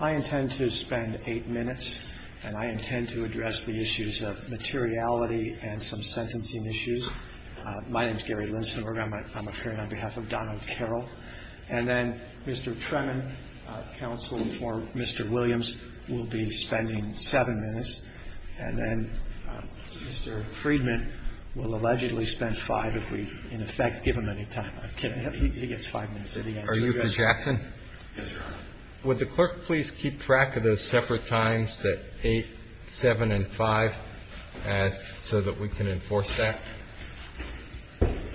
I intend to spend eight minutes, and I intend to address the issues of materiality and some sentencing issues. My name is Gary Linsenberg. I'm appearing on behalf of Donald Carroll. And then Mr. Tremin, counsel for Mr. Williams, will be spending seven minutes. And then Mr. Friedman will allegedly spend five if we, in effect, give him any time. I'm kidding. He gets five minutes at the end. Are you Mr. Jackson? Yes, Your Honor. Would the clerk please keep track of those separate times that 8, 7, and 5 ask so that we can enforce that?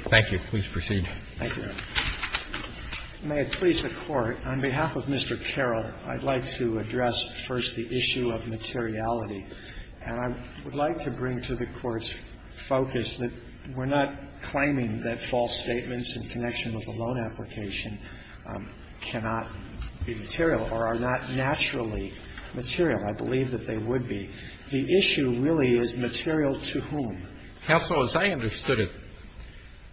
Thank you. Please proceed. Thank you, Your Honor. May it please the Court, on behalf of Mr. Carroll, I'd like to address first the issue of materiality. And I would like to bring to the Court's focus that we're not claiming that false statements in connection with the loan application cannot be material or are not naturally material. I believe that they would be. The issue really is material to whom. Counsel, as I understood it,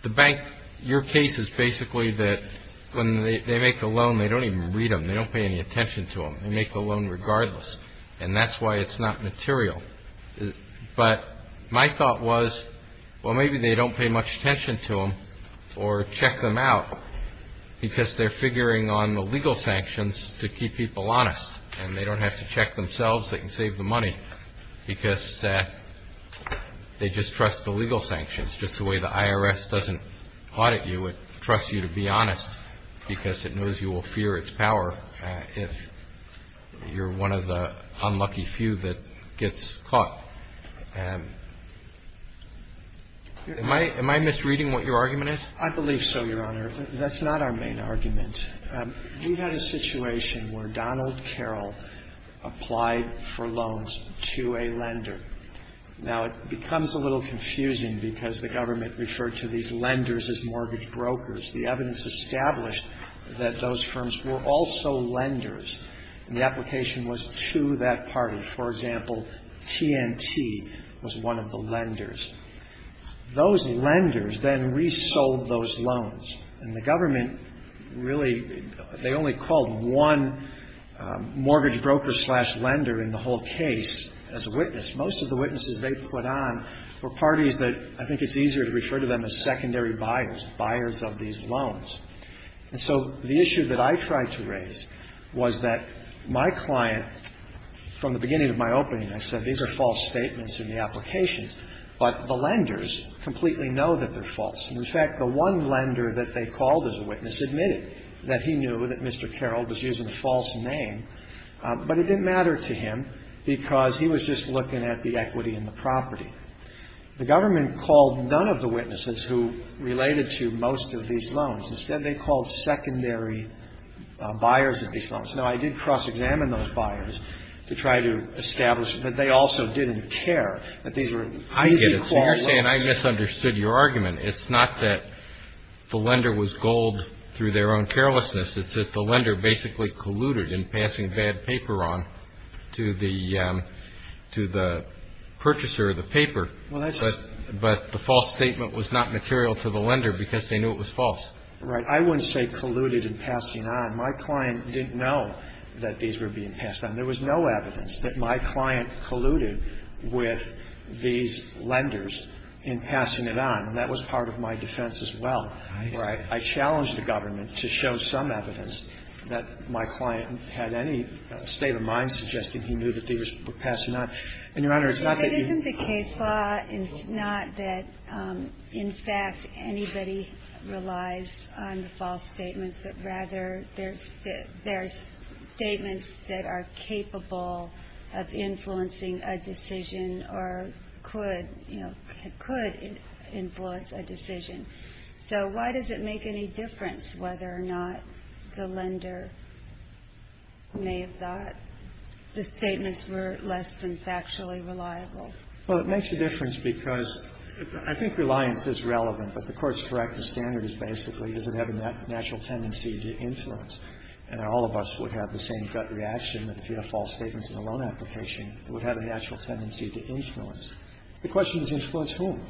the bank, your case is basically that when they make the loan, they don't even read them. They don't pay any attention to them. They make the loan regardless. And that's why it's not material. But my thought was, well, maybe they don't pay much attention to them or check them out because they're figuring on the legal sanctions to keep people honest. And they don't have to check themselves. They can save the money because they just trust the legal sanctions. Just the way the IRS doesn't audit you, it trusts you to be honest because it knows you will fear its power if you're one of the unlucky few that gets caught. Am I misreading what your argument is? I believe so, Your Honor. That's not our main argument. We had a situation where Donald Carroll applied for loans to a lender. Now, it becomes a little confusing because the government referred to these lenders as mortgage brokers. The evidence established that those firms were also lenders, and the application was to that party. For example, TNT was one of the lenders. Those lenders then resold those loans, and the government really, they only called one mortgage broker slash lender in the whole case as a witness. Most of the witnesses they put on were parties that I think it's easier to refer to them as secondary buyers, buyers of these loans. And so the issue that I tried to raise was that my client, from the beginning of my opening, I said these are false statements in the applications, but the lenders completely know that they're false. And, in fact, the one lender that they called as a witness admitted that he knew that Mr. Carroll was using a false name, but it didn't matter to him because he was just looking at the equity in the property. The government called none of the witnesses who related to most of these loans. Instead, they called secondary buyers of these loans. Now, I did cross-examine those buyers to try to establish that they also didn't care, that these were easy call lenders. Kennedy. So you're saying I misunderstood your argument. It's not that the lender was gold through their own carelessness. It's that the lender basically colluded in passing bad paper on to the purchaser of the paper. But the false statement was not material to the lender because they knew it was false. Right. I wouldn't say colluded in passing on. My client didn't know that these were being passed on. There was no evidence that my client colluded with these lenders in passing it on. And that was part of my defense as well. Right. I challenge the government to show some evidence that my client had any state of mind suggesting he knew that these were passing on. And, Your Honor, it's not that you ---- It isn't the case, Law, not that, in fact, anybody relies on the false statements, but rather there's statements that are capable of influencing a decision or could, you know, could influence a decision. So why does it make any difference whether or not the lender may have thought the statements were less than factually reliable? Well, it makes a difference because I think reliance is relevant, but the Court's corrective standard is basically does it have a natural tendency to influence? And all of us would have the same gut reaction that if you have false statements in a loan application, it would have a natural tendency to influence. The question is influence whom?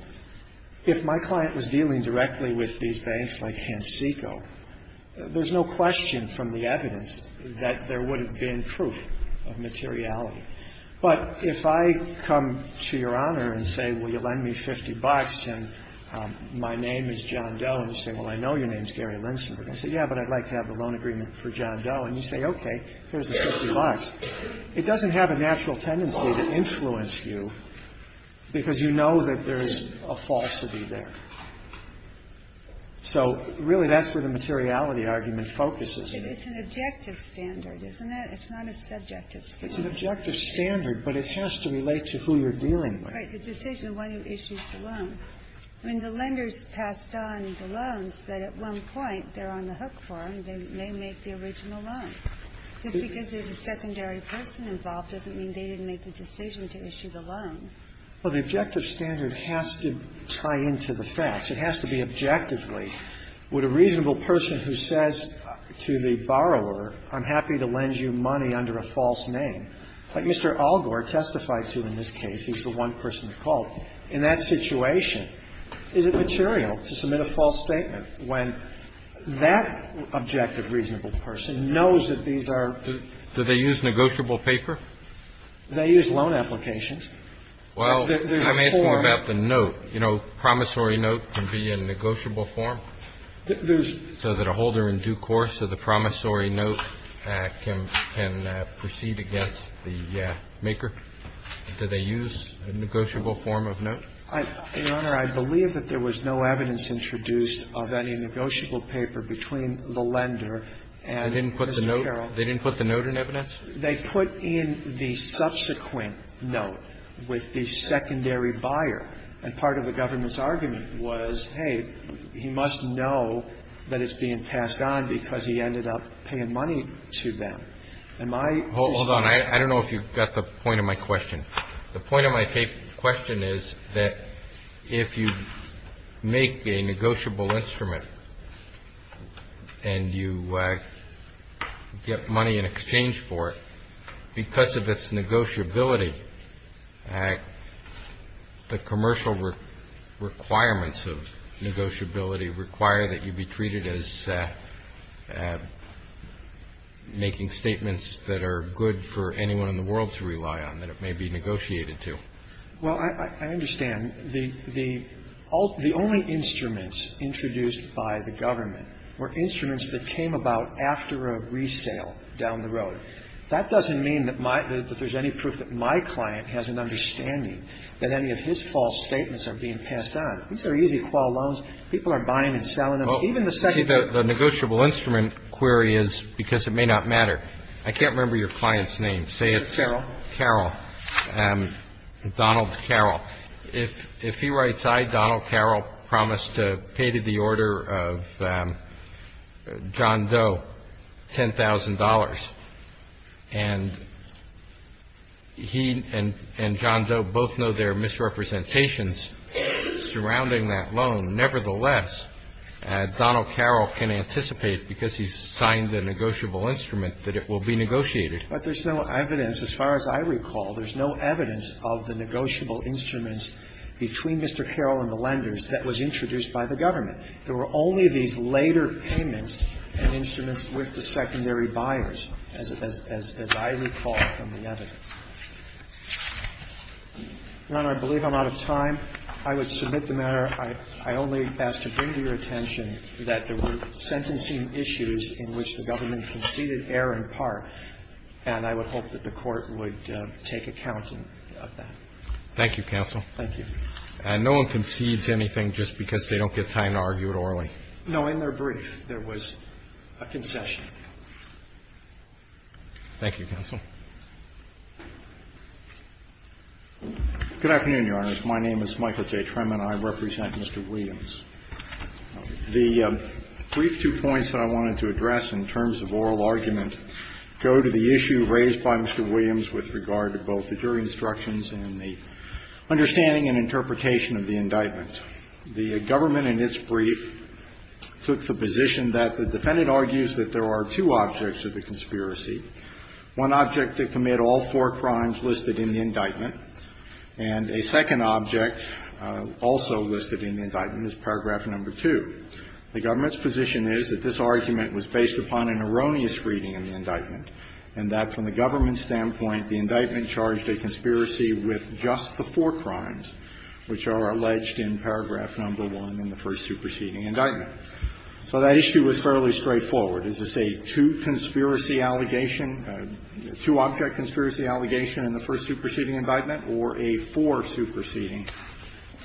If my client was dealing directly with these banks like Hansiko, there's no question from the evidence that there would have been proof of materiality. But if I come to Your Honor and say, well, you lend me 50 bucks and my name is John Doe, and you say, well, I know your name is Gary Linsenberg. I say, yeah, but I'd like to have a loan agreement for John Doe. And you say, okay, here's the 50 bucks. It doesn't have a natural tendency to influence you because you know that there is a falsity there. So really that's where the materiality argument focuses. It's an objective standard, isn't it? It's not a subjective standard. It's an objective standard, but it has to relate to who you're dealing with. Right. The decision, why do you issue the loan? I mean, the lenders passed on the loans, but at one point they're on the hook for them. They may make the original loan. Just because there's a secondary person involved doesn't mean they didn't make the decision to issue the loan. Well, the objective standard has to tie into the facts. It has to be objectively. Would a reasonable person who says to the borrower, I'm happy to lend you money under a false name, like Mr. Algor testified to in this case, he's the one person to call, in that situation, is it material to submit a false statement when that objective reasonable person knows that these are? Do they use negotiable paper? They use loan applications. Well, I'm asking about the note. You know, promissory note can be a negotiable form so that a holder in due course of the promissory note can proceed against the maker. Do they use a negotiable form of note? Your Honor, I believe that there was no evidence introduced of any negotiable paper between the lender and Mr. Carroll. They didn't put the note in evidence? They put in the subsequent note with the secondary buyer. And part of the government's argument was, hey, he must know that it's being passed on because he ended up paying money to them. Hold on. I don't know if you got the point of my question. The point of my question is that if you make a negotiable instrument and you get money in exchange for it, because of its negotiability, the commercial requirements of negotiability require that you be treated as making statements that are good for anyone in the world to rely on, that it may be negotiated to. Well, I understand. The only instruments introduced by the government were instruments that came about after a resale down the road. That doesn't mean that there's any proof that my client has an understanding that any of his false statements are being passed on. It's very easy to call loans. People are buying and selling them. Even the second- See, the negotiable instrument query is because it may not matter. I can't remember your client's name. Say it's- Carroll. Carroll. Donald Carroll. If he writes, I, Donald Carroll, promise to pay to the order of John Doe $10,000, and he and John Doe both know there are misrepresentations surrounding that loan, nevertheless, Donald Carroll can anticipate, because he's signed the negotiable instrument, that it will be negotiated. But there's no evidence. As far as I recall, there's no evidence of the negotiable instruments between Mr. Carroll and the lenders that was introduced by the government. There were only these later payments and instruments with the secondary buyers, as I recall from the evidence. Your Honor, I believe I'm out of time. I would submit the matter. I only ask to bring to your attention that there were sentencing issues in which the government conceded error in part, and I would hope that the Court would take account of that. Thank you, counsel. Thank you. And no one concedes anything just because they don't get time to argue it orally? In their brief, there was a concession. Thank you, counsel. Good afternoon, Your Honor. My name is Michael J. Tremmen. I represent Mr. Williams. The brief two points that I wanted to address in terms of oral argument go to the issue raised by Mr. Williams with regard to both the jury instructions and the understanding and interpretation of the indictment. The government in its brief took the position that the defendant argues that there are two objects of the conspiracy. One object to commit all four crimes listed in the indictment, and a second object also listed in the indictment is paragraph number 2. The government's position is that this argument was based upon an erroneous reading of the indictment and that from the government's standpoint, the indictment charged a conspiracy with just the four crimes which are alleged in paragraph number 1 in the first superseding indictment. So that issue was fairly straightforward. Is this a two conspiracy allegation, a two-object conspiracy allegation in the first superseding indictment or a four superseding?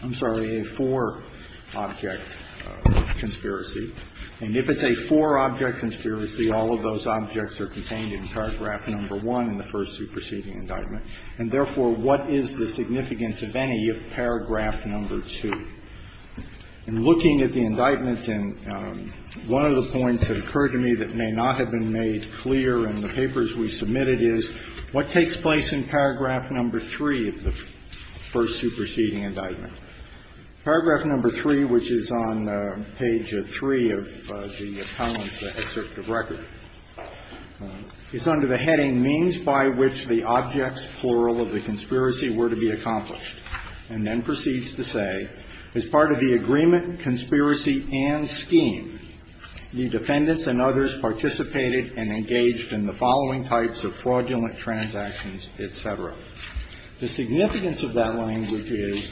I'm sorry, a four-object conspiracy. And if it's a four-object conspiracy, all of those objects are contained in paragraph number 1 in the first superseding indictment. And therefore, what is the significance of any of paragraph number 2? In looking at the indictments, and one of the points that occurred to me that may not have been made clear in the papers we submitted is, what takes place in paragraph number 3 of the first superseding indictment? Paragraph number 3, which is on page 3 of the appellant's excerpt of record, is under the heading, means by which the objects, plural, of the conspiracy were to be accomplished, and then proceeds to say, as part of the agreement, conspiracy, and scheme, the defendants and others participated and engaged in the following types of fraudulent transactions, et cetera. The significance of that language is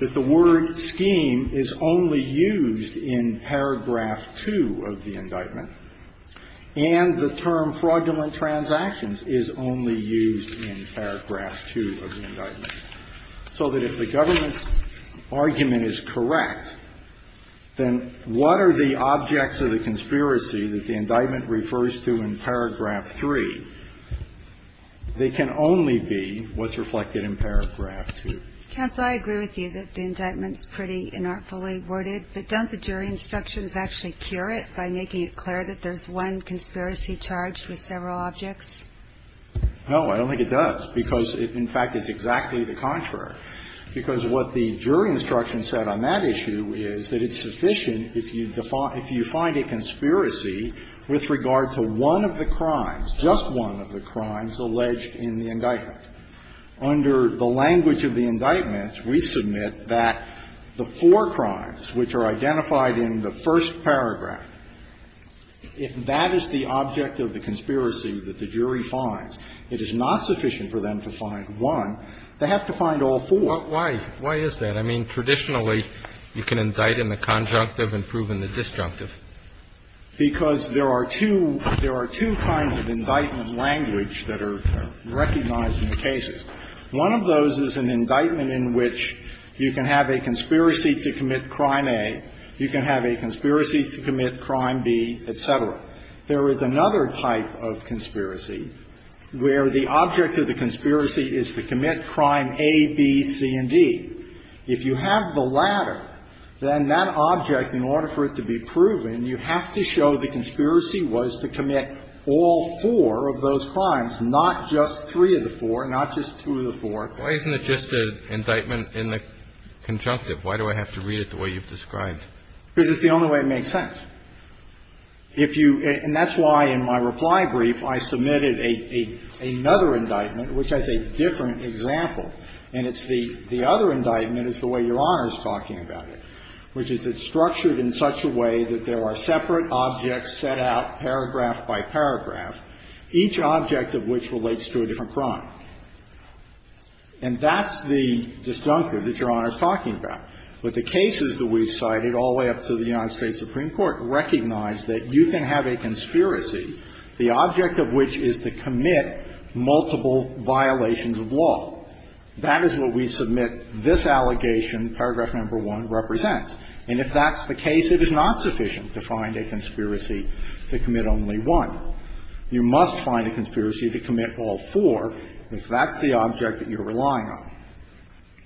that the word scheme is only used in paragraph 2 of the indictment, and the term fraudulent transactions is only used in paragraph 2 of the indictment, so that if the government's argument is correct, then what are the objects of the conspiracy that the indictment refers to in paragraph 3? They can only be what's reflected in paragraph 2. Kagan. Counsel, I agree with you that the indictment's pretty inartfully worded, but don't the jury instructions actually cure it by making it clear that there's one conspiracy charged with several objects? No, I don't think it does, because it, in fact, is exactly the contrary. Because what the jury instruction said on that issue is that it's sufficient if you find a conspiracy with regard to one of the crimes, just one of the crimes, alleged in the indictment. Under the language of the indictment, we submit that the four crimes which are identified in the first paragraph, if that is the object of the conspiracy that the jury finds, it is not sufficient for them to find one. They have to find all four. Why is that? I mean, traditionally, you can indict in the conjunctive and prove in the disjunctive. Because there are two kinds of indictment language that are recognized in the cases. One of those is an indictment in which you can have a conspiracy to commit crime A, you can have a conspiracy to commit crime B, et cetera. There is another type of conspiracy where the object of the conspiracy is to commit crime A, B, C, and D. If you have the latter, then that object, in order for it to be proven, you have to show the conspiracy was to commit all four of those crimes, not just three of the four, not just two of the four. Why isn't it just an indictment in the conjunctive? Why do I have to read it the way you've described? Because it's the only way it makes sense. If you – and that's why, in my reply brief, I submitted another indictment which has a different example. And it's the other indictment is the way Your Honor is talking about it, which is it's structured in such a way that there are separate objects set out paragraph by paragraph, each object of which relates to a different crime. And that's the disjunctive that Your Honor is talking about. But the cases that we've cited all the way up to the United States Supreme Court recognize that you can have a conspiracy, the object of which is to commit multiple violations of law. That is what we submit this allegation, paragraph number 1, represents. And if that's the case, it is not sufficient to find a conspiracy to commit only one. You must find a conspiracy to commit all four if that's the object that you're relying on.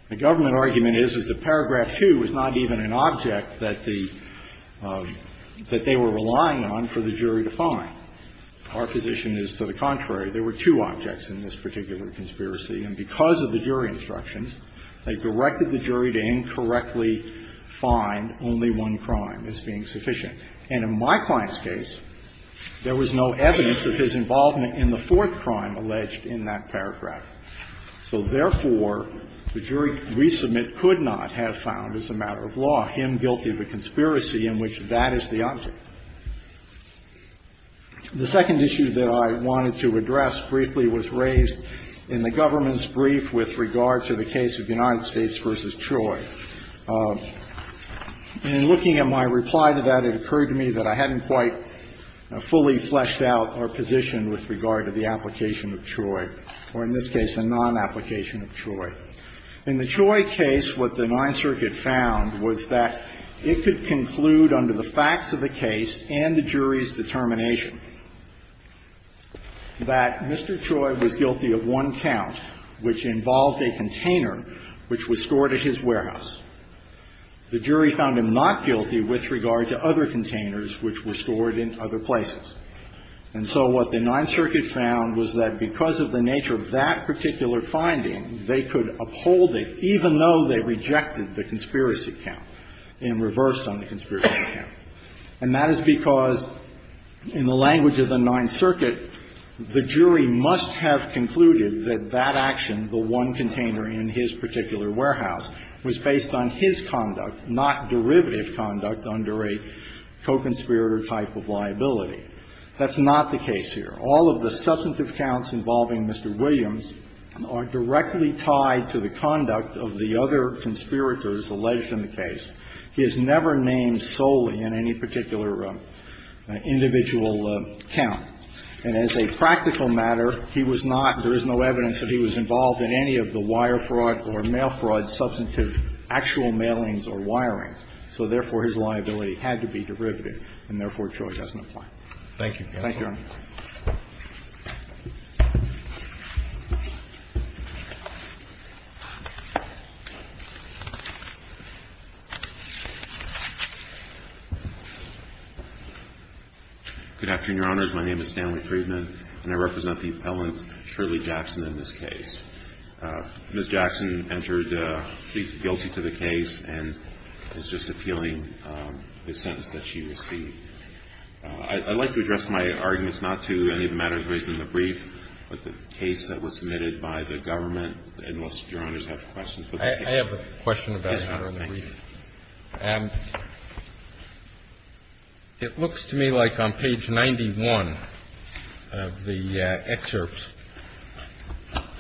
The government argument is, is that paragraph 2 is not even an object that the – that they were relying on for the jury to find. Our position is to the contrary. There were two objects in this particular conspiracy. And because of the jury instructions, they directed the jury to incorrectly find only one crime as being sufficient. And in my client's case, there was no evidence of his involvement in the fourth crime alleged in that paragraph. So, therefore, the jury resubmit could not have found as a matter of law him guilty of a conspiracy in which that is the object. The second issue that I wanted to address briefly was raised in the government's brief with regard to the case of United States v. Troy. And in looking at my reply to that, it occurred to me that I hadn't quite fully fleshed out our position with regard to the application of Troy, or in this case, a non-application of Troy. In the Troy case, what the Ninth Circuit found was that it could conclude under the facts of the case and the jury's determination that Mr. Troy was guilty of one count which involved a container which was stored at his warehouse. The jury found him not guilty with regard to other containers which were stored in other places. And so what the Ninth Circuit found was that because of the nature of that particular finding, they could uphold it, even though they rejected the conspiracy count and reversed on the conspiracy count. And that is because, in the language of the Ninth Circuit, the jury must have concluded that that action, the one container in his particular warehouse, was based on his conduct, not derivative conduct under a co-conspirator type of liability. That's not the case here. All of the substantive counts involving Mr. Williams are directly tied to the conduct of the other conspirators alleged in the case. He is never named solely in any particular individual count. And as a practical matter, he was not, there is no evidence that he was involved in any of the wire fraud or mail fraud substantive actual mailings or wirings. So therefore, his liability had to be derivative, and therefore, Troy doesn't apply. Thank you, Your Honor. Good afternoon, Your Honors. My name is Stanley Friedman, and I represent the appellant, Shirley Jackson, in this case. Ms. Jackson entered plea guilty to the case and is just appealing the sentence that she received. I'd like to address my arguments not to any of the matters raised in the brief, but the case that was submitted by the government, unless Your Honors have questions for the case. I have a question about the brief. It looks to me like on page 91 of the excerpts,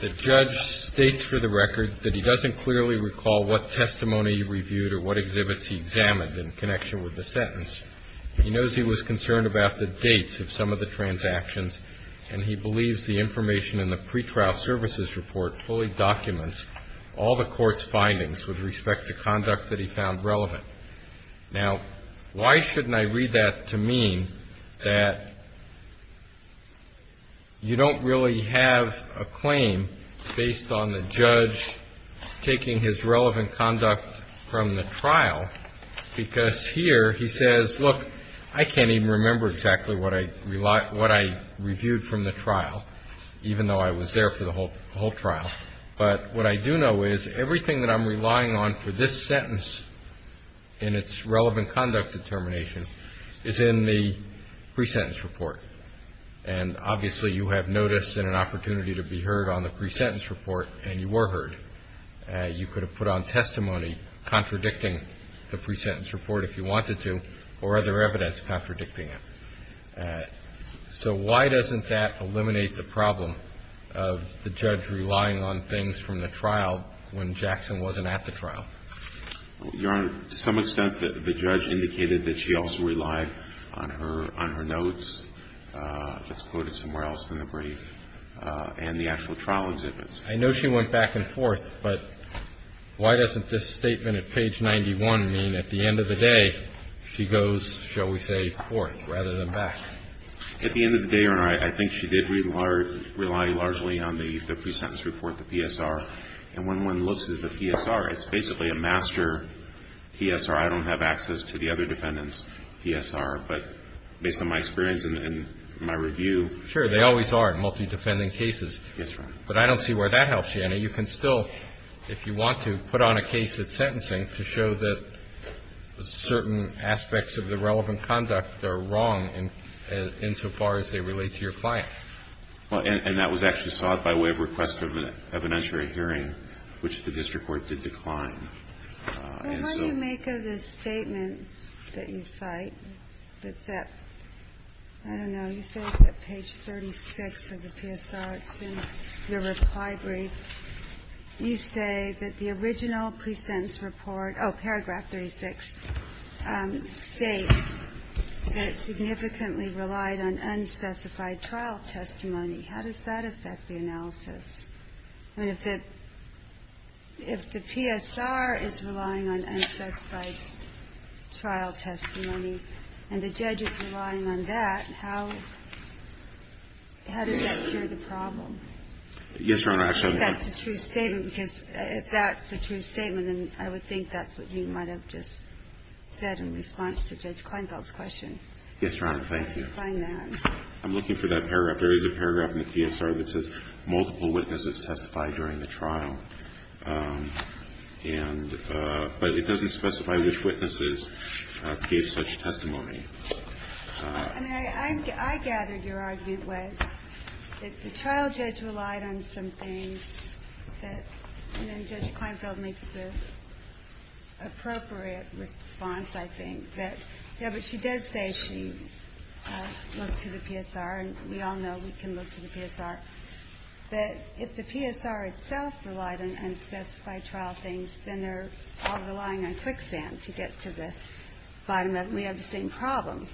the judge states for the record that he doesn't clearly recall what testimony he reviewed or what exhibits he examined in connection with the sentence. He knows he was concerned about the dates of some of the transactions, and he believes the information in the pretrial services report fully documents all the court's findings with respect to conduct that he found relevant. Now, why shouldn't I read that to mean that you don't really have a claim based on taking his relevant conduct from the trial? Because here he says, look, I can't even remember exactly what I reviewed from the trial, even though I was there for the whole trial. But what I do know is everything that I'm relying on for this sentence in its relevant conduct determination is in the pre-sentence report. And obviously you have notice and an opportunity to be heard on the pre-sentence report, and you were heard. You could have put on testimony contradicting the pre-sentence report if you wanted to, or other evidence contradicting it. So why doesn't that eliminate the problem of the judge relying on things from the trial when Jackson wasn't at the trial? Your Honor, to some extent the judge indicated that she also relied on her notes, that's quoted somewhere else in the brief, and the actual trial exhibits. I know she went back and forth, but why doesn't this statement at page 91 mean at the end of the day she goes, shall we say, forth rather than back? At the end of the day, Your Honor, I think she did rely largely on the pre-sentence report, the PSR. And when one looks at the PSR, it's basically a master PSR. I don't have access to the other defendants' PSR. But based on my experience and my review. Sure, they always are in multi-defendant cases. That's right. But I don't see where that helps you. You can still, if you want to, put on a case at sentencing to show that certain aspects of the relevant conduct are wrong insofar as they relate to your client. Well, and that was actually sought by way of request of an evidentiary hearing, which the district court did decline. And so. Well, how do you make of the statement that you cite that's at, I don't know, you say it's at page 36 of the PSR. It's in your reply brief. You say that the original pre-sentence report, oh, paragraph 36, states that it significantly relied on unspecified trial testimony. How does that affect the analysis? I mean, if the PSR is relying on unspecified trial testimony and the judge is relying on that, how does that cure the problem? Yes, Your Honor. If that's a true statement, because if that's a true statement, then I would think that's what you might have just said in response to Judge Kleinfeld's question. Yes, Your Honor. Thank you. I'm looking for that paragraph. There is a paragraph in the PSR that says multiple witnesses testified during the trial. And, but it doesn't specify which witnesses gave such testimony. And I gathered your argument was that the trial judge relied on some things that, and then Judge Kleinfeld makes the appropriate response, I think, that, yeah, but she does say she looked to the PSR, and we all know we can look to the PSR, that if the PSR itself relied on unspecified trial things, then they're all relying on quicksand to get to the bottom of it, and we have the same problem.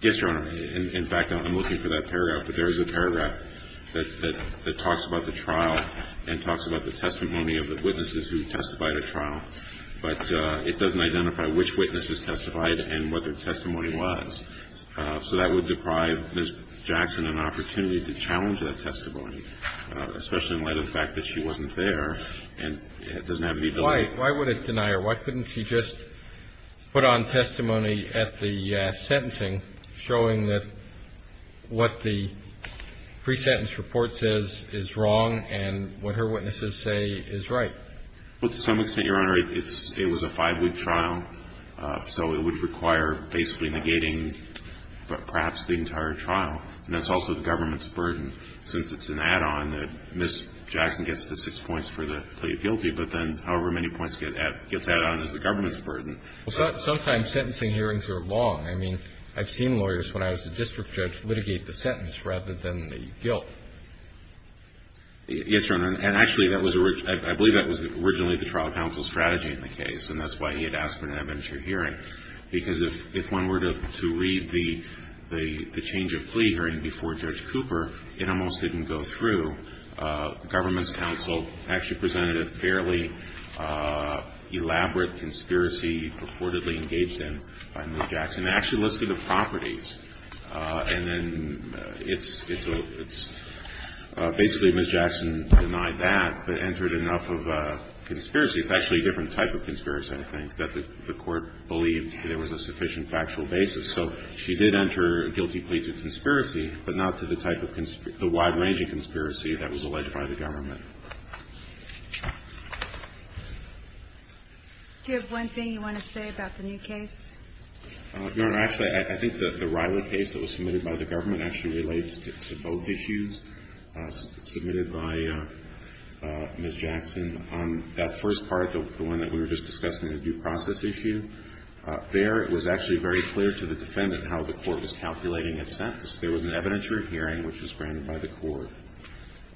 Yes, Your Honor. In fact, I'm looking for that paragraph. But there is a paragraph that talks about the trial and talks about the testimony of the witnesses who testified at trial. But it doesn't identify which witnesses testified and what their testimony was. So that would deprive Ms. Jackson an opportunity to challenge that testimony, especially in light of the fact that she wasn't there and doesn't have any delay. Why would it deny her? Why couldn't she just put on testimony at the sentencing showing that what the pre-sentence report says is wrong and what her witnesses say is right? Well, to some extent, Your Honor, it was a five-week trial, so it would require basically negating perhaps the entire trial. And that's also the government's burden, since it's an add-on that Ms. Jackson gets the six points for the plea of guilty, but then however many points gets added on is the government's burden. Well, sometimes sentencing hearings are long. I mean, I've seen lawyers, when I was a district judge, litigate the sentence rather than the guilt. Yes, Your Honor. And actually, I believe that was originally the trial counsel's strategy in the case, and that's why he had asked for an adventure hearing. Because if one were to read the change of plea hearing before Judge Cooper, it almost didn't go through. The government's counsel actually presented a fairly elaborate conspiracy purportedly engaged in by Ms. Jackson. They actually listed the properties, and then it's basically Ms. Jackson denied that, but entered enough of a conspiracy. It's actually a different type of conspiracy, I think, that the Court believed there was a sufficient factual basis. So she did enter a guilty plea to conspiracy, but not to the type of wide-ranging conspiracy that was alleged by the government. Do you have one thing you want to say about the new case? Your Honor, actually, I think that the Riley case that was submitted by the government actually relates to both issues submitted by Ms. Jackson. That first part, the one that we were just discussing, the due process issue, there it was actually very clear to the defendant how the Court was calculating a sentence. There was an adventure hearing which was granted by the Court.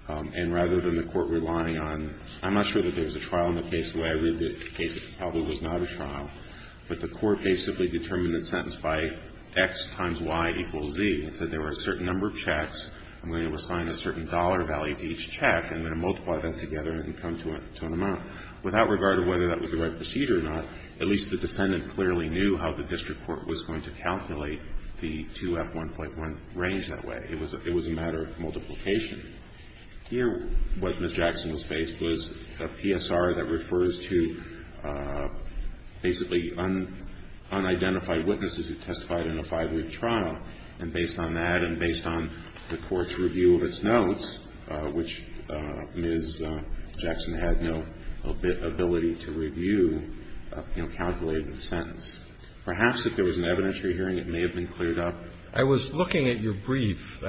And rather than the Court relying on – I'm not sure that there was a trial in the case the way I read the case. It probably was not a trial. But the Court basically determined the sentence by X times Y equals Z. It said there were a certain number of checks. I'm going to assign a certain dollar value to each check, and then multiply that together and come to an amount. Without regard to whether that was the right procedure or not, at least the defendant clearly knew how the district court was going to calculate the 2F1.1 range that way. It was a matter of multiplication. Here, what Ms. Jackson was faced was a PSR that refers to basically unidentified witnesses who testified in a five-week trial. And based on that and based on the Court's review of its notes, which Ms. Jackson had no ability to review, calculated the sentence. Perhaps if there was an evidentiary hearing, it may have been cleared up. I was looking at your brief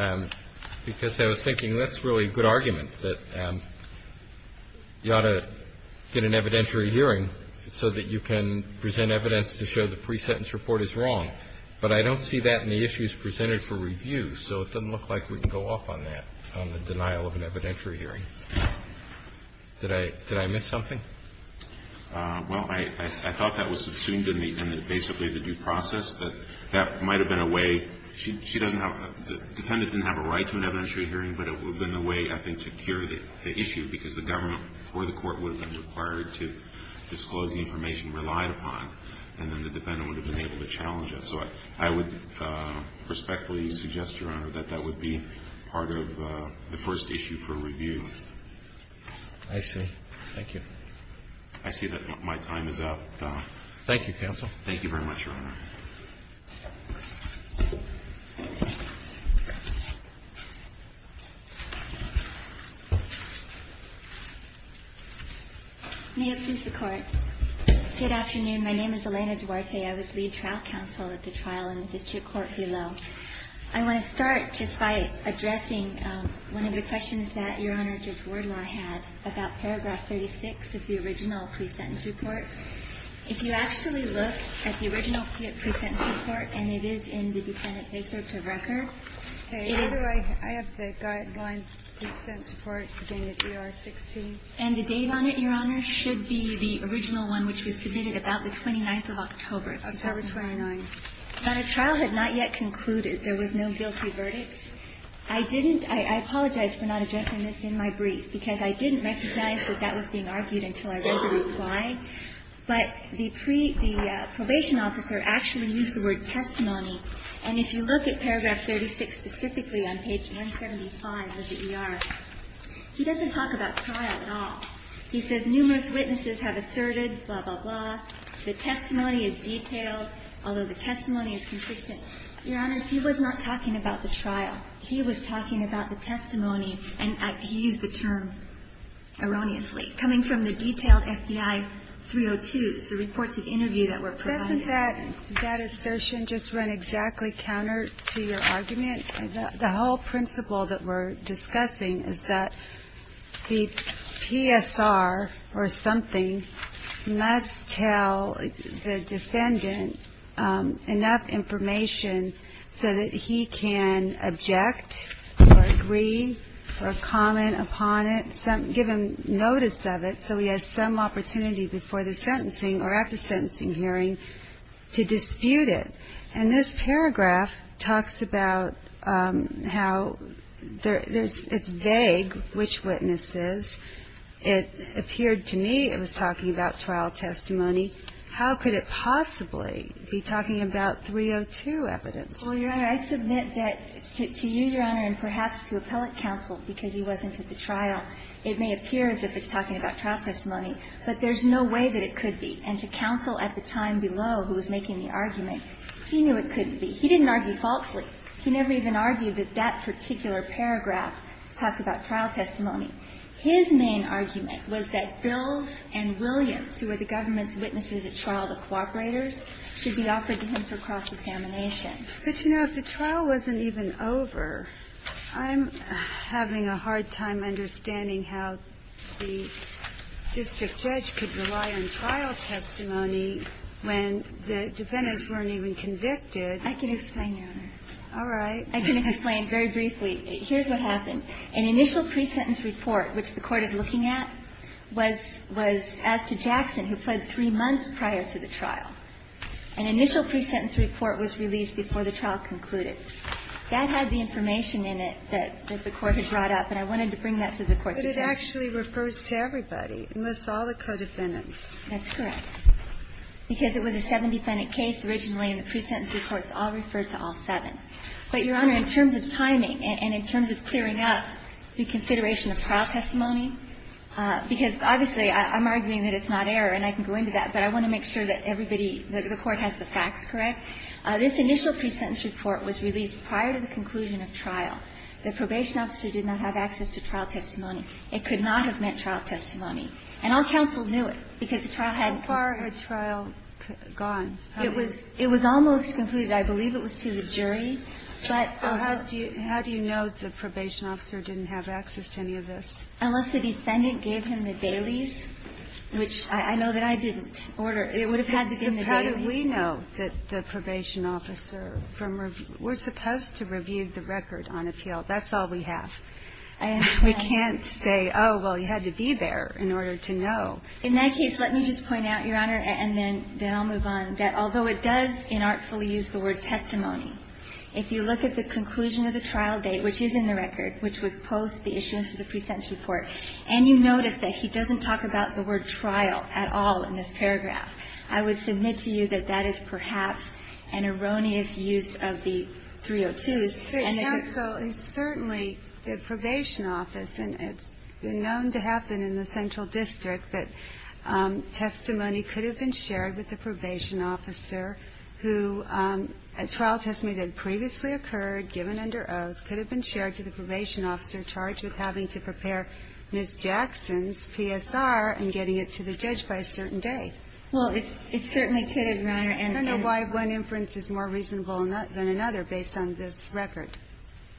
because I was thinking that's really a good argument, that you ought to get an evidentiary hearing so that you can present evidence to show the pre-sentence report is wrong. But I don't see that in the issues presented for review. So it doesn't look like we can go off on that, on the denial of an evidentiary hearing. Did I miss something? Well, I thought that was subsumed in basically the due process. That might have been a way. She doesn't have – the defendant didn't have a right to an evidentiary hearing, but it would have been a way, I think, to cure the issue because the government or the Court would have been required to disclose the information relied upon, and then the defendant would have been able to challenge it. So I would respectfully suggest, Your Honor, that that would be part of the first issue for review. I see. Thank you. I see that my time is up. Thank you, Counsel. Thank you very much, Your Honor. May it please the Court. Good afternoon. My name is Elena Duarte. I was lead trial counsel at the trial in the district court below. I want to start just by addressing one of the questions that Your Honor, Judge Wardlaw had about paragraph 36 of the original pre-sentence report. If you actually look at the original pre-sentence report, and it is in the defendant's discharge of record, it is – Okay. I have the guideline pre-sentence report, the AR-16. And the date on it, Your Honor, should be the original one, which was submitted about the 29th of October. October 29th. But a trial had not yet concluded. There was no guilty verdict. I didn't – I apologize for not addressing this in my brief, because I didn't recognize that that was being argued until I read the reply. But the pre – the probation officer actually used the word testimony. And if you look at paragraph 36 specifically on page 175 of the ER, he doesn't talk about trial at all. He says numerous witnesses have asserted, blah, blah, blah. The testimony is detailed. Although the testimony is consistent. Your Honor, he was not talking about the trial. He was talking about the testimony, and he used the term erroneously, coming from the detailed FBI 302s, the reports of interview that were provided. Doesn't that assertion just run exactly counter to your argument? The whole principle that we're discussing is that the PSR or something must tell the defendant enough information so that he can object or agree or comment upon it, give him notice of it so he has some opportunity before the sentencing or at the sentencing hearing to dispute it. And this paragraph talks about how there's – it's vague, which witnesses. It appeared to me it was talking about trial testimony. How could it possibly be talking about 302 evidence? Well, Your Honor, I submit that to you, Your Honor, and perhaps to appellate counsel, because he wasn't at the trial, it may appear as if it's talking about trial testimony. But there's no way that it could be. And to counsel at the time below who was making the argument, he knew it couldn't be. He didn't argue falsely. He never even argued that that particular paragraph talked about trial testimony. His main argument was that Bills and Williams, who were the government's witnesses at trial, the cooperators, should be offered to him for cross-examination. But, you know, if the trial wasn't even over, I'm having a hard time understanding how the district judge could rely on trial testimony when the defendants weren't even convicted. I can explain, Your Honor. All right. I can explain very briefly. Here's what happened. An initial pre-sentence report, which the Court is looking at, was asked to Jackson, who fled three months prior to the trial. An initial pre-sentence report was released before the trial concluded. That had the information in it that the Court had brought up, and I wanted to bring that to the Court today. But it actually refers to everybody, unless all the co-defendants. That's correct. Because it was a seven-defendant case originally, and the pre-sentence report all referred to all seven. But, Your Honor, in terms of timing and in terms of clearing up the consideration of trial testimony, because, obviously, I'm arguing that it's not error and I can go into that, but I want to make sure that everybody, that the Court has the facts correct, this initial pre-sentence report was released prior to the conclusion of trial. The probation officer did not have access to trial testimony. It could not have meant trial testimony. And all counsel knew it, because the trial hadn't been concluded. How far had trial gone? It was almost concluded. I believe it was to the jury, but also to the jury. How do you know the probation officer didn't have access to any of this? Unless the defendant gave him the Bailey's, which I know that I didn't order. It would have had to have been the Bailey's. But how do we know that the probation officer from review – we're supposed to review the record on appeal. That's all we have. I am not – We can't say, oh, well, he had to be there in order to know. In that case, let me just point out, Your Honor, and then I'll move on, that although it does inartfully use the word testimony, if you look at the conclusion of the trial date, which is in the record, which was post the issuance of the pre-sentence report, and you notice that he doesn't talk about the word trial at all in this paragraph, I would submit to you that that is perhaps an erroneous use of the 302s, and that the – But counsel, it's certainly the probation office, and it's known to happen in the central district that testimony could have been shared with the probation officer who, a trial testimony that had previously occurred, given under oath, could have been shared to the probation officer charged with having to prepare Ms. Jackson's PSR and getting it to the judge by a certain day. Well, it certainly could have, Your Honor. And I don't know why one inference is more reasonable than another based on this record.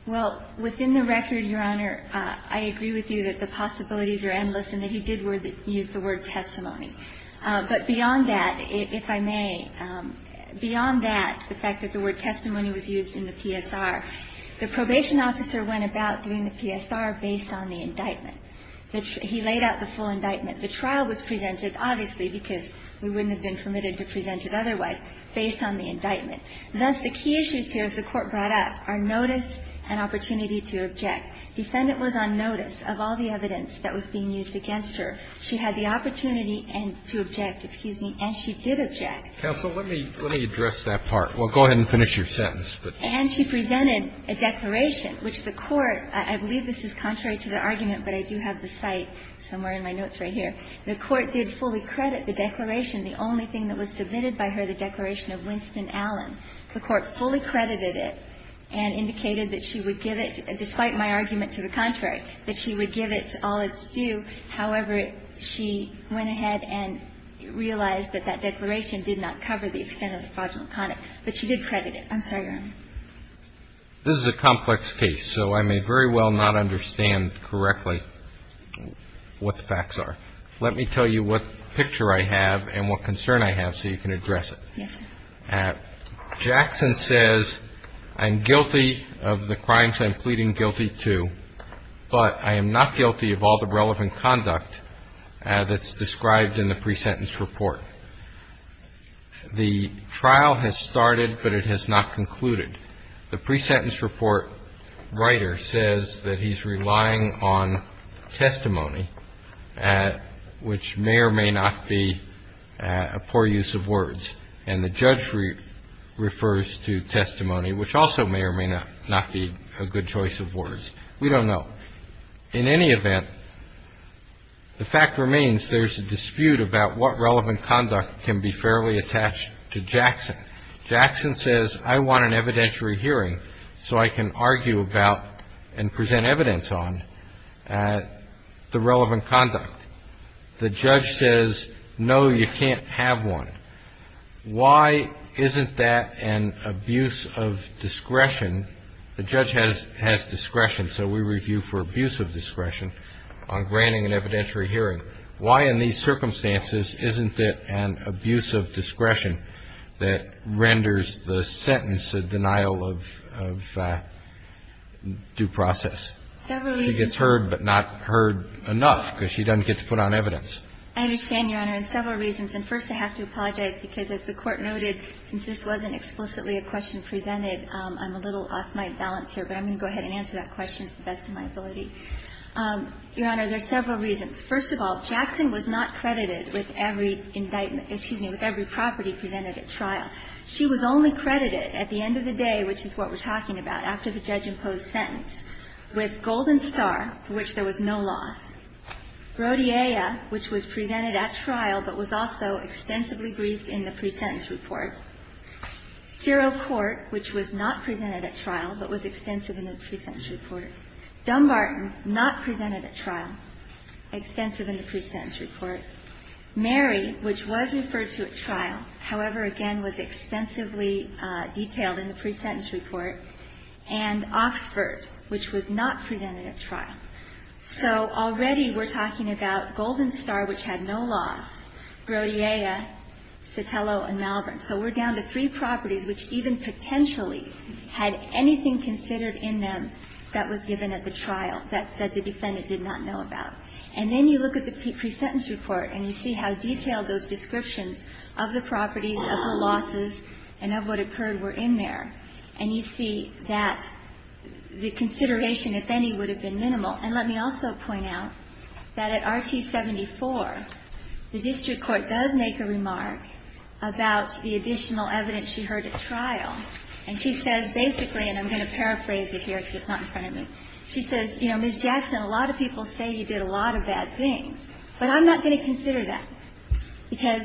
Well, within the record, Your Honor, I agree with you that the possibilities are endless and that he did use the word testimony. But beyond that, if I may, beyond that, the fact that the word testimony was used in the PSR, the probation officer went about doing the PSR based on the indictment. He laid out the full indictment. The trial was presented, obviously, because we wouldn't have been permitted to present it otherwise, based on the indictment. Thus, the key issues here, as the Court brought up, are notice and opportunity to object. Defendant was on notice of all the evidence that was being used against her. She had the opportunity and to object, excuse me, and she did object. Counsel, let me address that part. Well, go ahead and finish your sentence. And she presented a declaration, which the Court, I believe this is contrary to the argument, but I do have the cite somewhere in my notes right here. The Court did fully credit the declaration. The only thing that was submitted by her, the declaration of Winston Allen. The Court fully credited it and indicated that she would give it, despite my argument to the contrary, that she would give it to all that's due. However, she went ahead and realized that that declaration did not cover the extent of the fraudulent conduct, but she did credit it. I'm sorry, Your Honor. This is a complex case, so I may very well not understand correctly what the facts are. Let me tell you what picture I have and what concern I have so you can address Yes, sir. Jackson says, I'm guilty of the crimes I'm pleading guilty to, but I am not guilty of all the relevant conduct that's described in the pre-sentence report. The trial has started, but it has not concluded. The pre-sentence report writer says that he's relying on testimony, which may or may not be a poor use of words. And the judge refers to testimony, which also may or may not be a good choice of words. We don't know. In any event, the fact remains there's a dispute about what relevant conduct can be fairly attached to Jackson. Jackson says, I want an evidentiary hearing so I can argue about and present evidence on the relevant conduct. The judge says, no, you can't have one. Why isn't that an abuse of discretion? The judge has discretion. So we review for abuse of discretion on granting an evidentiary hearing. Why in these circumstances isn't it an abuse of discretion that renders the sentence a denial of due process? Several reasons. She gets heard but not heard enough because she doesn't get to put on evidence. I understand, Your Honor, in several reasons. And first, I have to apologize, because as the Court noted, since this wasn't explicitly a question presented, I'm a little off my balance here. But I'm going to go ahead and answer that question to the best of my ability. Your Honor, there are several reasons. First of all, Jackson was not credited with every indictment – excuse me, with every property presented at trial. She was only credited at the end of the day, which is what we're talking about, after the judge-imposed sentence, with Golden Star, for which there was no loss, Brodyella, which was presented at trial but was also extensively briefed in the presentence report, Zero Court, which was not presented at trial, but was extensive in the presentence report, Dumbarton, not presented at trial, extensive in the presentence report, however again was extensively detailed in the presentence report, and Oxford, which was not presented at trial. So already we're talking about Golden Star, which had no loss, Brodyella, Sotelo, and Malvern. So we're down to three properties which even potentially had anything considered in them that was given at the trial that the defendant did not know about. And then you look at the presentence report and you see how detailed those descriptions of the properties, of the losses, and of what occurred were in there. And you see that the consideration, if any, would have been minimal. And let me also point out that at Rt. 74, the district court does make a remark about the additional evidence she heard at trial. And she says basically, and I'm going to paraphrase it here because it's not in front of me, she says, you know, Ms. Jackson, a lot of people say you did a lot of bad things, but I'm not going to consider that. Because,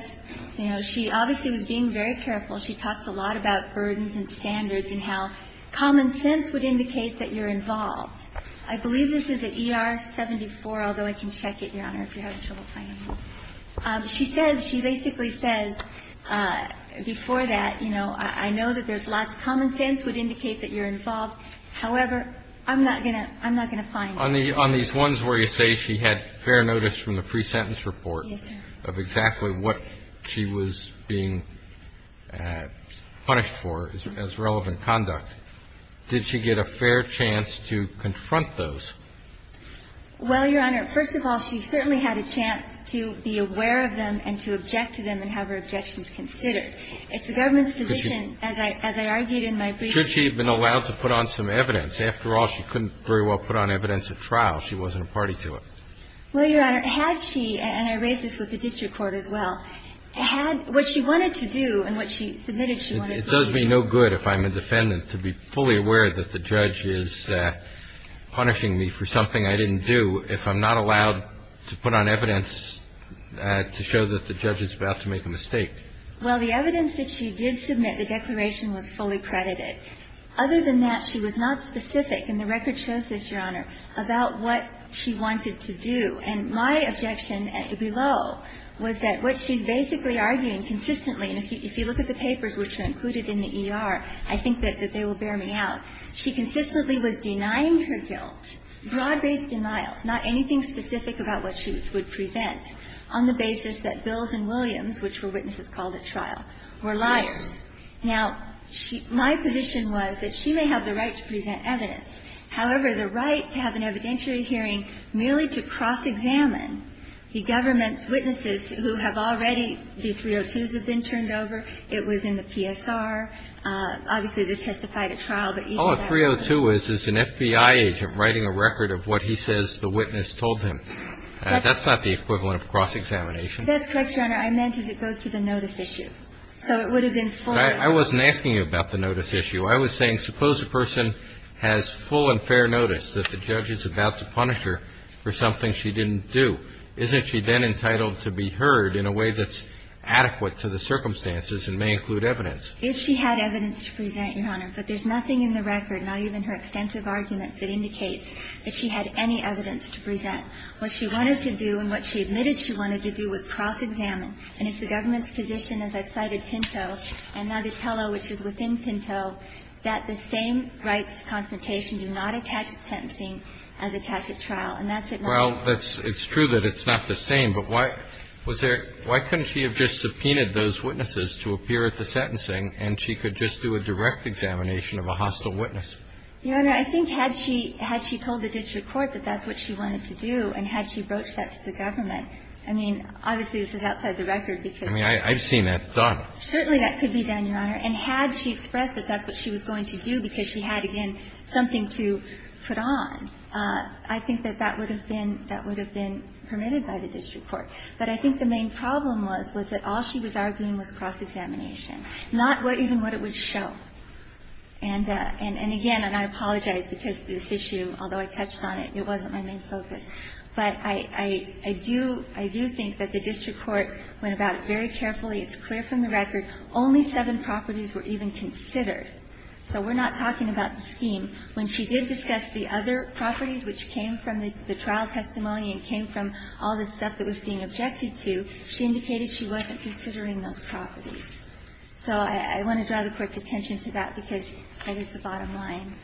you know, she obviously was being very careful. She talks a lot about burdens and standards and how common sense would indicate that you're involved. I believe this is at ER 74, although I can check it, Your Honor, if you're having trouble finding it. She says, she basically says before that, you know, I know that there's lots of common sense would indicate that you're involved. However, I'm not going to find it. On these ones where you say she had fair notice from the presentence report of exactly what she was being punished for as relevant conduct, did she get a fair chance to confront those? Well, Your Honor, first of all, she certainly had a chance to be aware of them and to object to them and have her objections considered. It's the government's position, as I argued in my brief. Should she have been allowed to put on some evidence? After all, she couldn't very well put on evidence at trial. She wasn't a party to it. Well, Your Honor, had she, and I raise this with the district court as well, had what she wanted to do and what she submitted she wanted to do. It does me no good if I'm a defendant to be fully aware that the judge is punishing me for something I didn't do if I'm not allowed to put on evidence to show that the judge is about to make a mistake. Well, the evidence that she did submit, the declaration was fully credited. Other than that, she was not specific, and the record shows this, Your Honor, about what she wanted to do. And my objection below was that what she's basically arguing consistently, and if you look at the papers which are included in the ER, I think that they will bear me out. She consistently was denying her guilt, broad-based denials, not anything specific about what she would present, on the basis that Bills and Williams, which were witnesses called at trial, were liars. Now, my position was that she may have the right to present evidence. However, the right to have an evidentiary hearing merely to cross-examine the government's witnesses who have already the 302s have been turned over. It was in the PSR. Obviously, they testified at trial, but even that was not the case. All a 302 is is an FBI agent writing a record of what he says the witness told him. That's not the equivalent of cross-examination. That's correct, Your Honor. I meant it goes to the notice issue. So it would have been full. I wasn't asking you about the notice issue. I was saying suppose a person has full and fair notice that the judge is about to punish her for something she didn't do. Isn't she then entitled to be heard in a way that's adequate to the circumstances and may include evidence? If she had evidence to present, Your Honor. But there's nothing in the record, not even her extensive arguments, that indicates that she had any evidence to present. What she wanted to do and what she admitted she wanted to do was cross-examine. And if the government's position, as I've cited Pinto and Agitello, which is within the scope of the trial, and that's it. Well, it's true that it's not the same. But why couldn't she have just subpoenaed those witnesses to appear at the sentencing and she could just do a direct examination of a hostile witness? Your Honor, I think had she told the district court that that's what she wanted to do and had she broached that to the government, I mean, obviously, this is outside the record. I mean, I've seen that done. Certainly that could be done, Your Honor. And had she expressed that that's what she was going to do because she had, again, nothing to put on, I think that that would have been permitted by the district court. But I think the main problem was, was that all she was arguing was cross-examination, not even what it would show. And again, and I apologize because this issue, although I touched on it, it wasn't my main focus. But I do think that the district court went about it very carefully. It's clear from the record. Only seven properties were even considered. So we're not talking about the scheme. When she did discuss the other properties, which came from the trial testimony and came from all the stuff that was being objected to, she indicated she wasn't considering those properties. So I want to draw the Court's attention to that because that is the bottom line.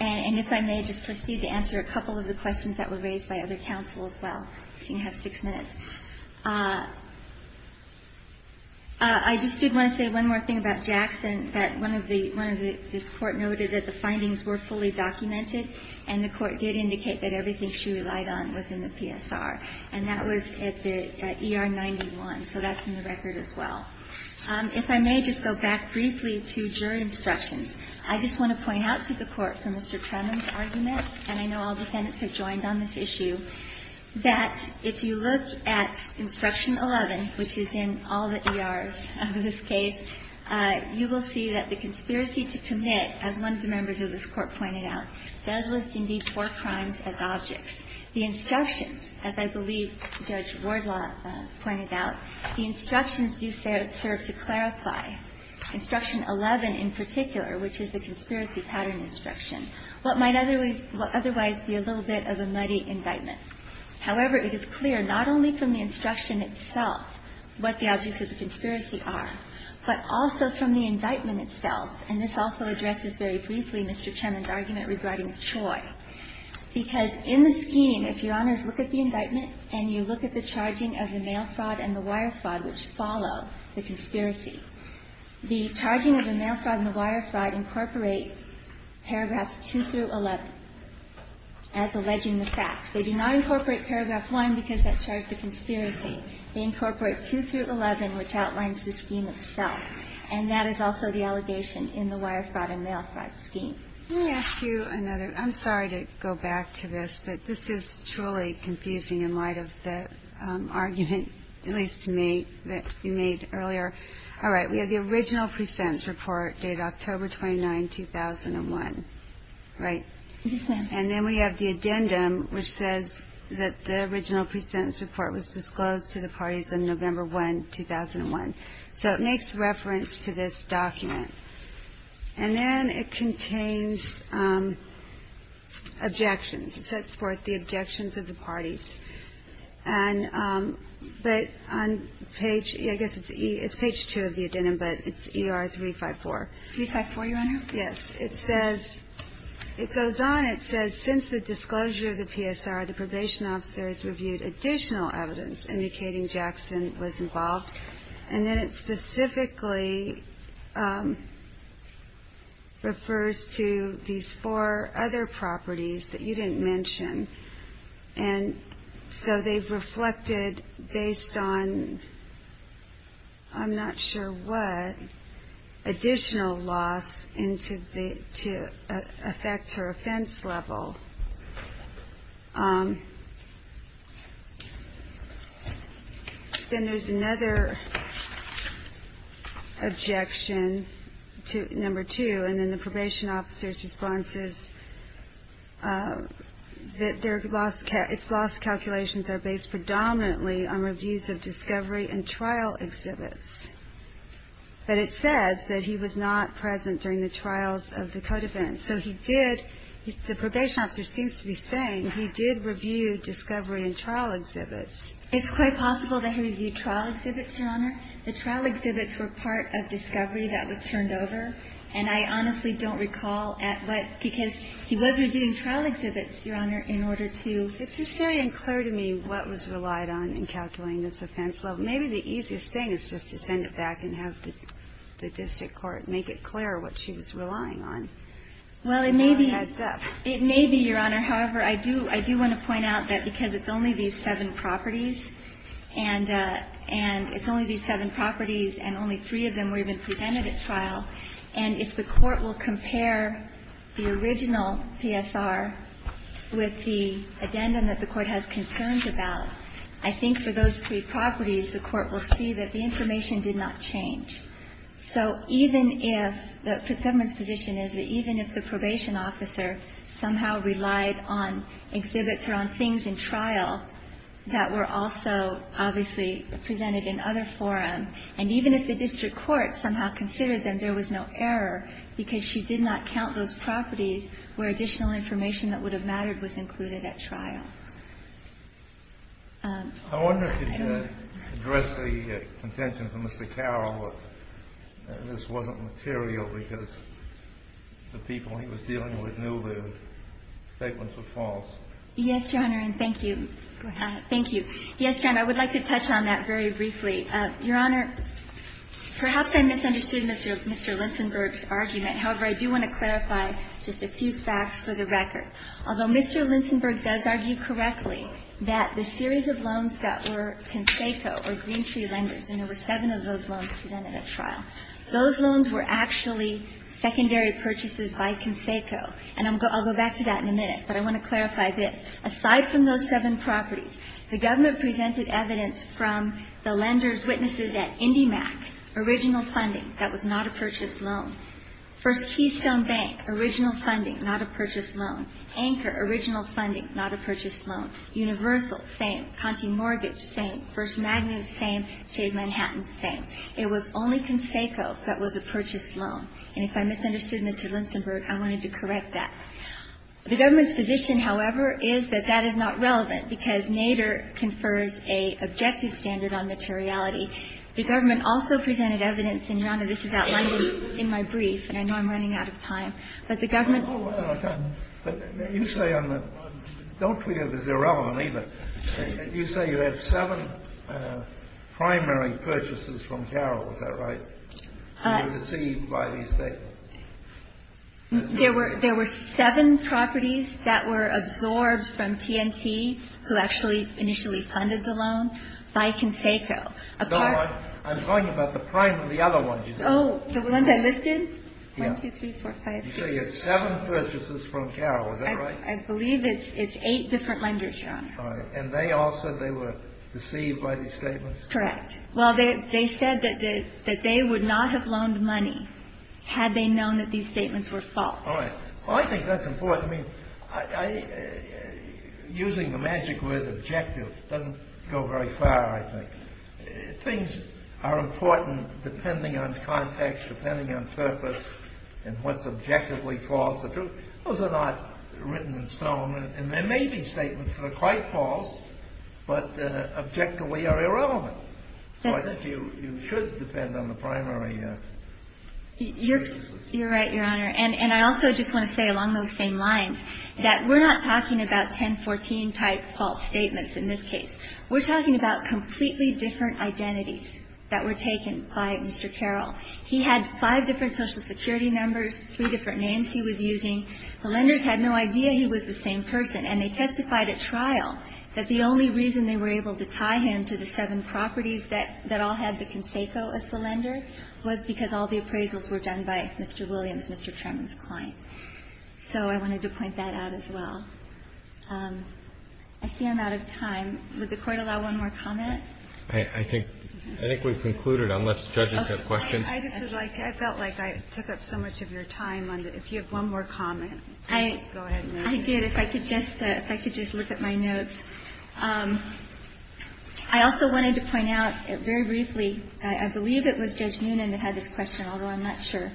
And if I may, just proceed to answer a couple of the questions that were raised by other counsel as well. You have six minutes. I just did want to say one more thing about Jackson, that one of the, one of the, this Court noted that the findings were fully documented, and the Court did indicate that everything she relied on was in the PSR, and that was at the, at ER 91. So that's in the record as well. If I may just go back briefly to jury instructions. I just want to point out to the Court, from Mr. Trenum's argument, and I know all 11, which is in all the ERs of this case, you will see that the conspiracy to commit, as one of the members of this Court pointed out, does list indeed four crimes as objects. The instructions, as I believe Judge Wardlaw pointed out, the instructions do serve to clarify, instruction 11 in particular, which is the conspiracy pattern instruction, what might otherwise be a little bit of a muddy indictment. However, it is clear not only from the instruction itself what the objects of the conspiracy are, but also from the indictment itself. And this also addresses very briefly Mr. Trenum's argument regarding Choi. Because in the scheme, if Your Honors look at the indictment and you look at the charging of the mail fraud and the wire fraud, which follow the conspiracy, the charging of the mail fraud and the wire fraud incorporate paragraphs 2 through 11 as alleging the facts. They do not incorporate paragraph 1 because that charged the conspiracy. They incorporate 2 through 11, which outlines the scheme itself. And that is also the allegation in the wire fraud and mail fraud scheme. Let me ask you another. I'm sorry to go back to this, but this is truly confusing in light of the argument, at least to me, that you made earlier. All right. We have the original pre-sentence report dated October 29, 2001, right? Yes, ma'am. And then we have the addendum, which says that the original pre-sentence report was disclosed to the parties on November 1, 2001. So it makes reference to this document. And then it contains objections. It says for the objections of the parties. And but on page ‑‑ I guess it's page 2 of the addendum, but it's ER 354. 354, Your Honor? Yes. It says ‑‑ it goes on. It says since the disclosure of the PSR, the probation officers reviewed additional evidence indicating Jackson was involved. And then it specifically refers to these four other properties that you didn't mention. And so they've reflected based on I'm not sure what additional loss to affect her offense level. Then there's another objection to number 2. And then the probation officer's response is that their loss calculations are based predominantly on reviews of discovery and trial exhibits. But it says that he was not present during the trials of the co‑defendants. So he did ‑‑ the probation officer seems to be saying he did review discovery and trial exhibits. It's quite possible that he reviewed trial exhibits, Your Honor. The trial exhibits were part of discovery that was turned over. And I honestly don't recall at what ‑‑ because he was reviewing trial exhibits, Your Honor, in order to ‑‑ It's just very unclear to me what was relied on in calculating this offense level. Maybe the easiest thing is just to send it back and have the district court make it clear what she was relying on. Well, it may be, Your Honor. However, I do want to point out that because it's only these seven properties, and it's only these seven properties and only three of them were even presented at trial, and if the court will compare the original PSR with the addendum that the court has concerns about, I think for those three properties, the court will see that the information did not change. So even if the government's position is that even if the probation officer somehow relied on exhibits or on things in trial that were also obviously presented in other forum, and even if the district court somehow considered them, there was no error because she did not count those properties where additional information that would have mattered was included at trial. I wonder if you could address the contention from Mr. Carroll that this wasn't material because the people he was dealing with knew the statements were false. Yes, Your Honor, and thank you. Go ahead. Thank you. Yes, Your Honor, I would like to touch on that very briefly. Your Honor, perhaps I misunderstood Mr. Linsenberg's argument. However, I do want to clarify just a few facts for the record. Although Mr. Linsenberg does argue correctly that the series of loans that were Conseco or Greentree lenders, and there were seven of those loans presented at trial, those loans were actually secondary purchases by Conseco. And I'll go back to that in a minute, but I want to clarify this. Aside from those seven properties, the government presented evidence from the lenders' witnesses at IndyMac, original funding, that was not a purchased loan. First Keystone Bank, original funding, not a purchased loan. Anchor, original funding, not a purchased loan. Universal, same. Conti Mortgage, same. First Magnus, same. Chase Manhattan, same. It was only Conseco that was a purchased loan. And if I misunderstood Mr. Linsenberg, I wanted to correct that. The government's position, however, is that that is not relevant because Nader confers a objective standard on materiality. The government also presented evidence, and Your Honor, this is outlined in my brief, and I know I'm running out of time. But the government ---- But you say on the ---- don't feel this is irrelevant either. You say you had seven primary purchases from Carroll. Is that right? You received by these dates. There were seven properties that were absorbed from T&T, who actually initially funded the loan, by Conseco. Apart ---- No, I'm talking about the other ones you did. Oh, the ones I listed? Yes. One, two, three, four, five, six. You say you had seven purchases from Carroll. Is that right? I believe it's eight different lenders, Your Honor. All right. And they all said they were deceived by these statements? Correct. Well, they said that they would not have loaned money had they known that these statements were false. All right. Well, I think that's important. I mean, using the magic word objective doesn't go very far, I think. Things are important depending on context, depending on purpose, and what's objectively false or true. Those are not written in stone. And there may be statements that are quite false, but objectively are irrelevant. So I think you should depend on the primary. You're right, Your Honor. And I also just want to say along those same lines that we're not talking about 1014-type false statements in this case. We're talking about completely different identities that were taken by Mr. Carroll. He had five different Social Security numbers, three different names he was using. The lenders had no idea he was the same person. And they testified at trial that the only reason they were able to tie him to the seven properties that all had the conseco as the lender was because all the appraisals were done by Mr. Williams, Mr. Tremont's client. So I wanted to point that out as well. I see I'm out of time. Would the Court allow one more comment? I think we've concluded, unless judges have questions. I just would like to. I felt like I took up so much of your time. If you have one more comment, please go ahead. I did. If I could just look at my notes. I also wanted to point out very briefly, I believe it was Judge Noonan that had this question, although I'm not sure.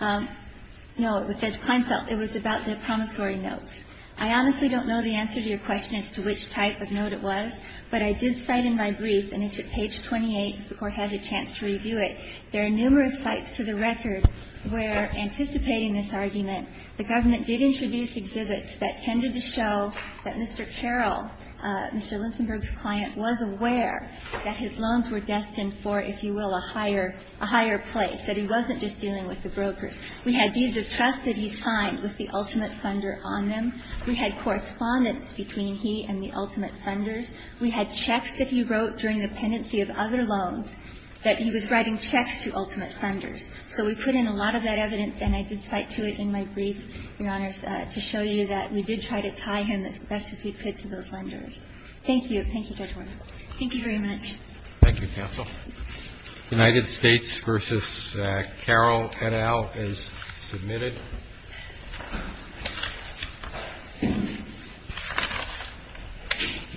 No, it was Judge Kleinfeld. It was about the promissory notes. I honestly don't know the answer to your question as to which type of note it was, but I did cite in my brief, and it's at page 28, if the Court has a chance to review it, there are numerous sites to the record where, anticipating this argument, the government did introduce exhibits that tended to show that Mr. Carroll, Mr. Linsenburg's client, was aware that his loans were destined for, if you will, a higher place, that he wasn't just dealing with the brokers. We had deeds of trust that he signed with the ultimate funder on them. We had correspondence between he and the ultimate funders. We had checks that he wrote during the pendency of other loans that he was writing checks to ultimate funders. So we put in a lot of that evidence, and I did cite to it in my brief, Your Honors, to show you that we did try to tie him as best as we could to those lenders. Thank you. Thank you very much. Thank you, counsel. United States v. Carroll et al. is submitted. And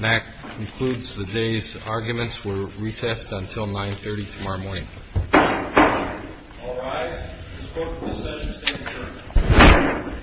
that concludes the day's arguments. We're recessed until 9.30 tomorrow morning. All rise. This Court for discussion is adjourned.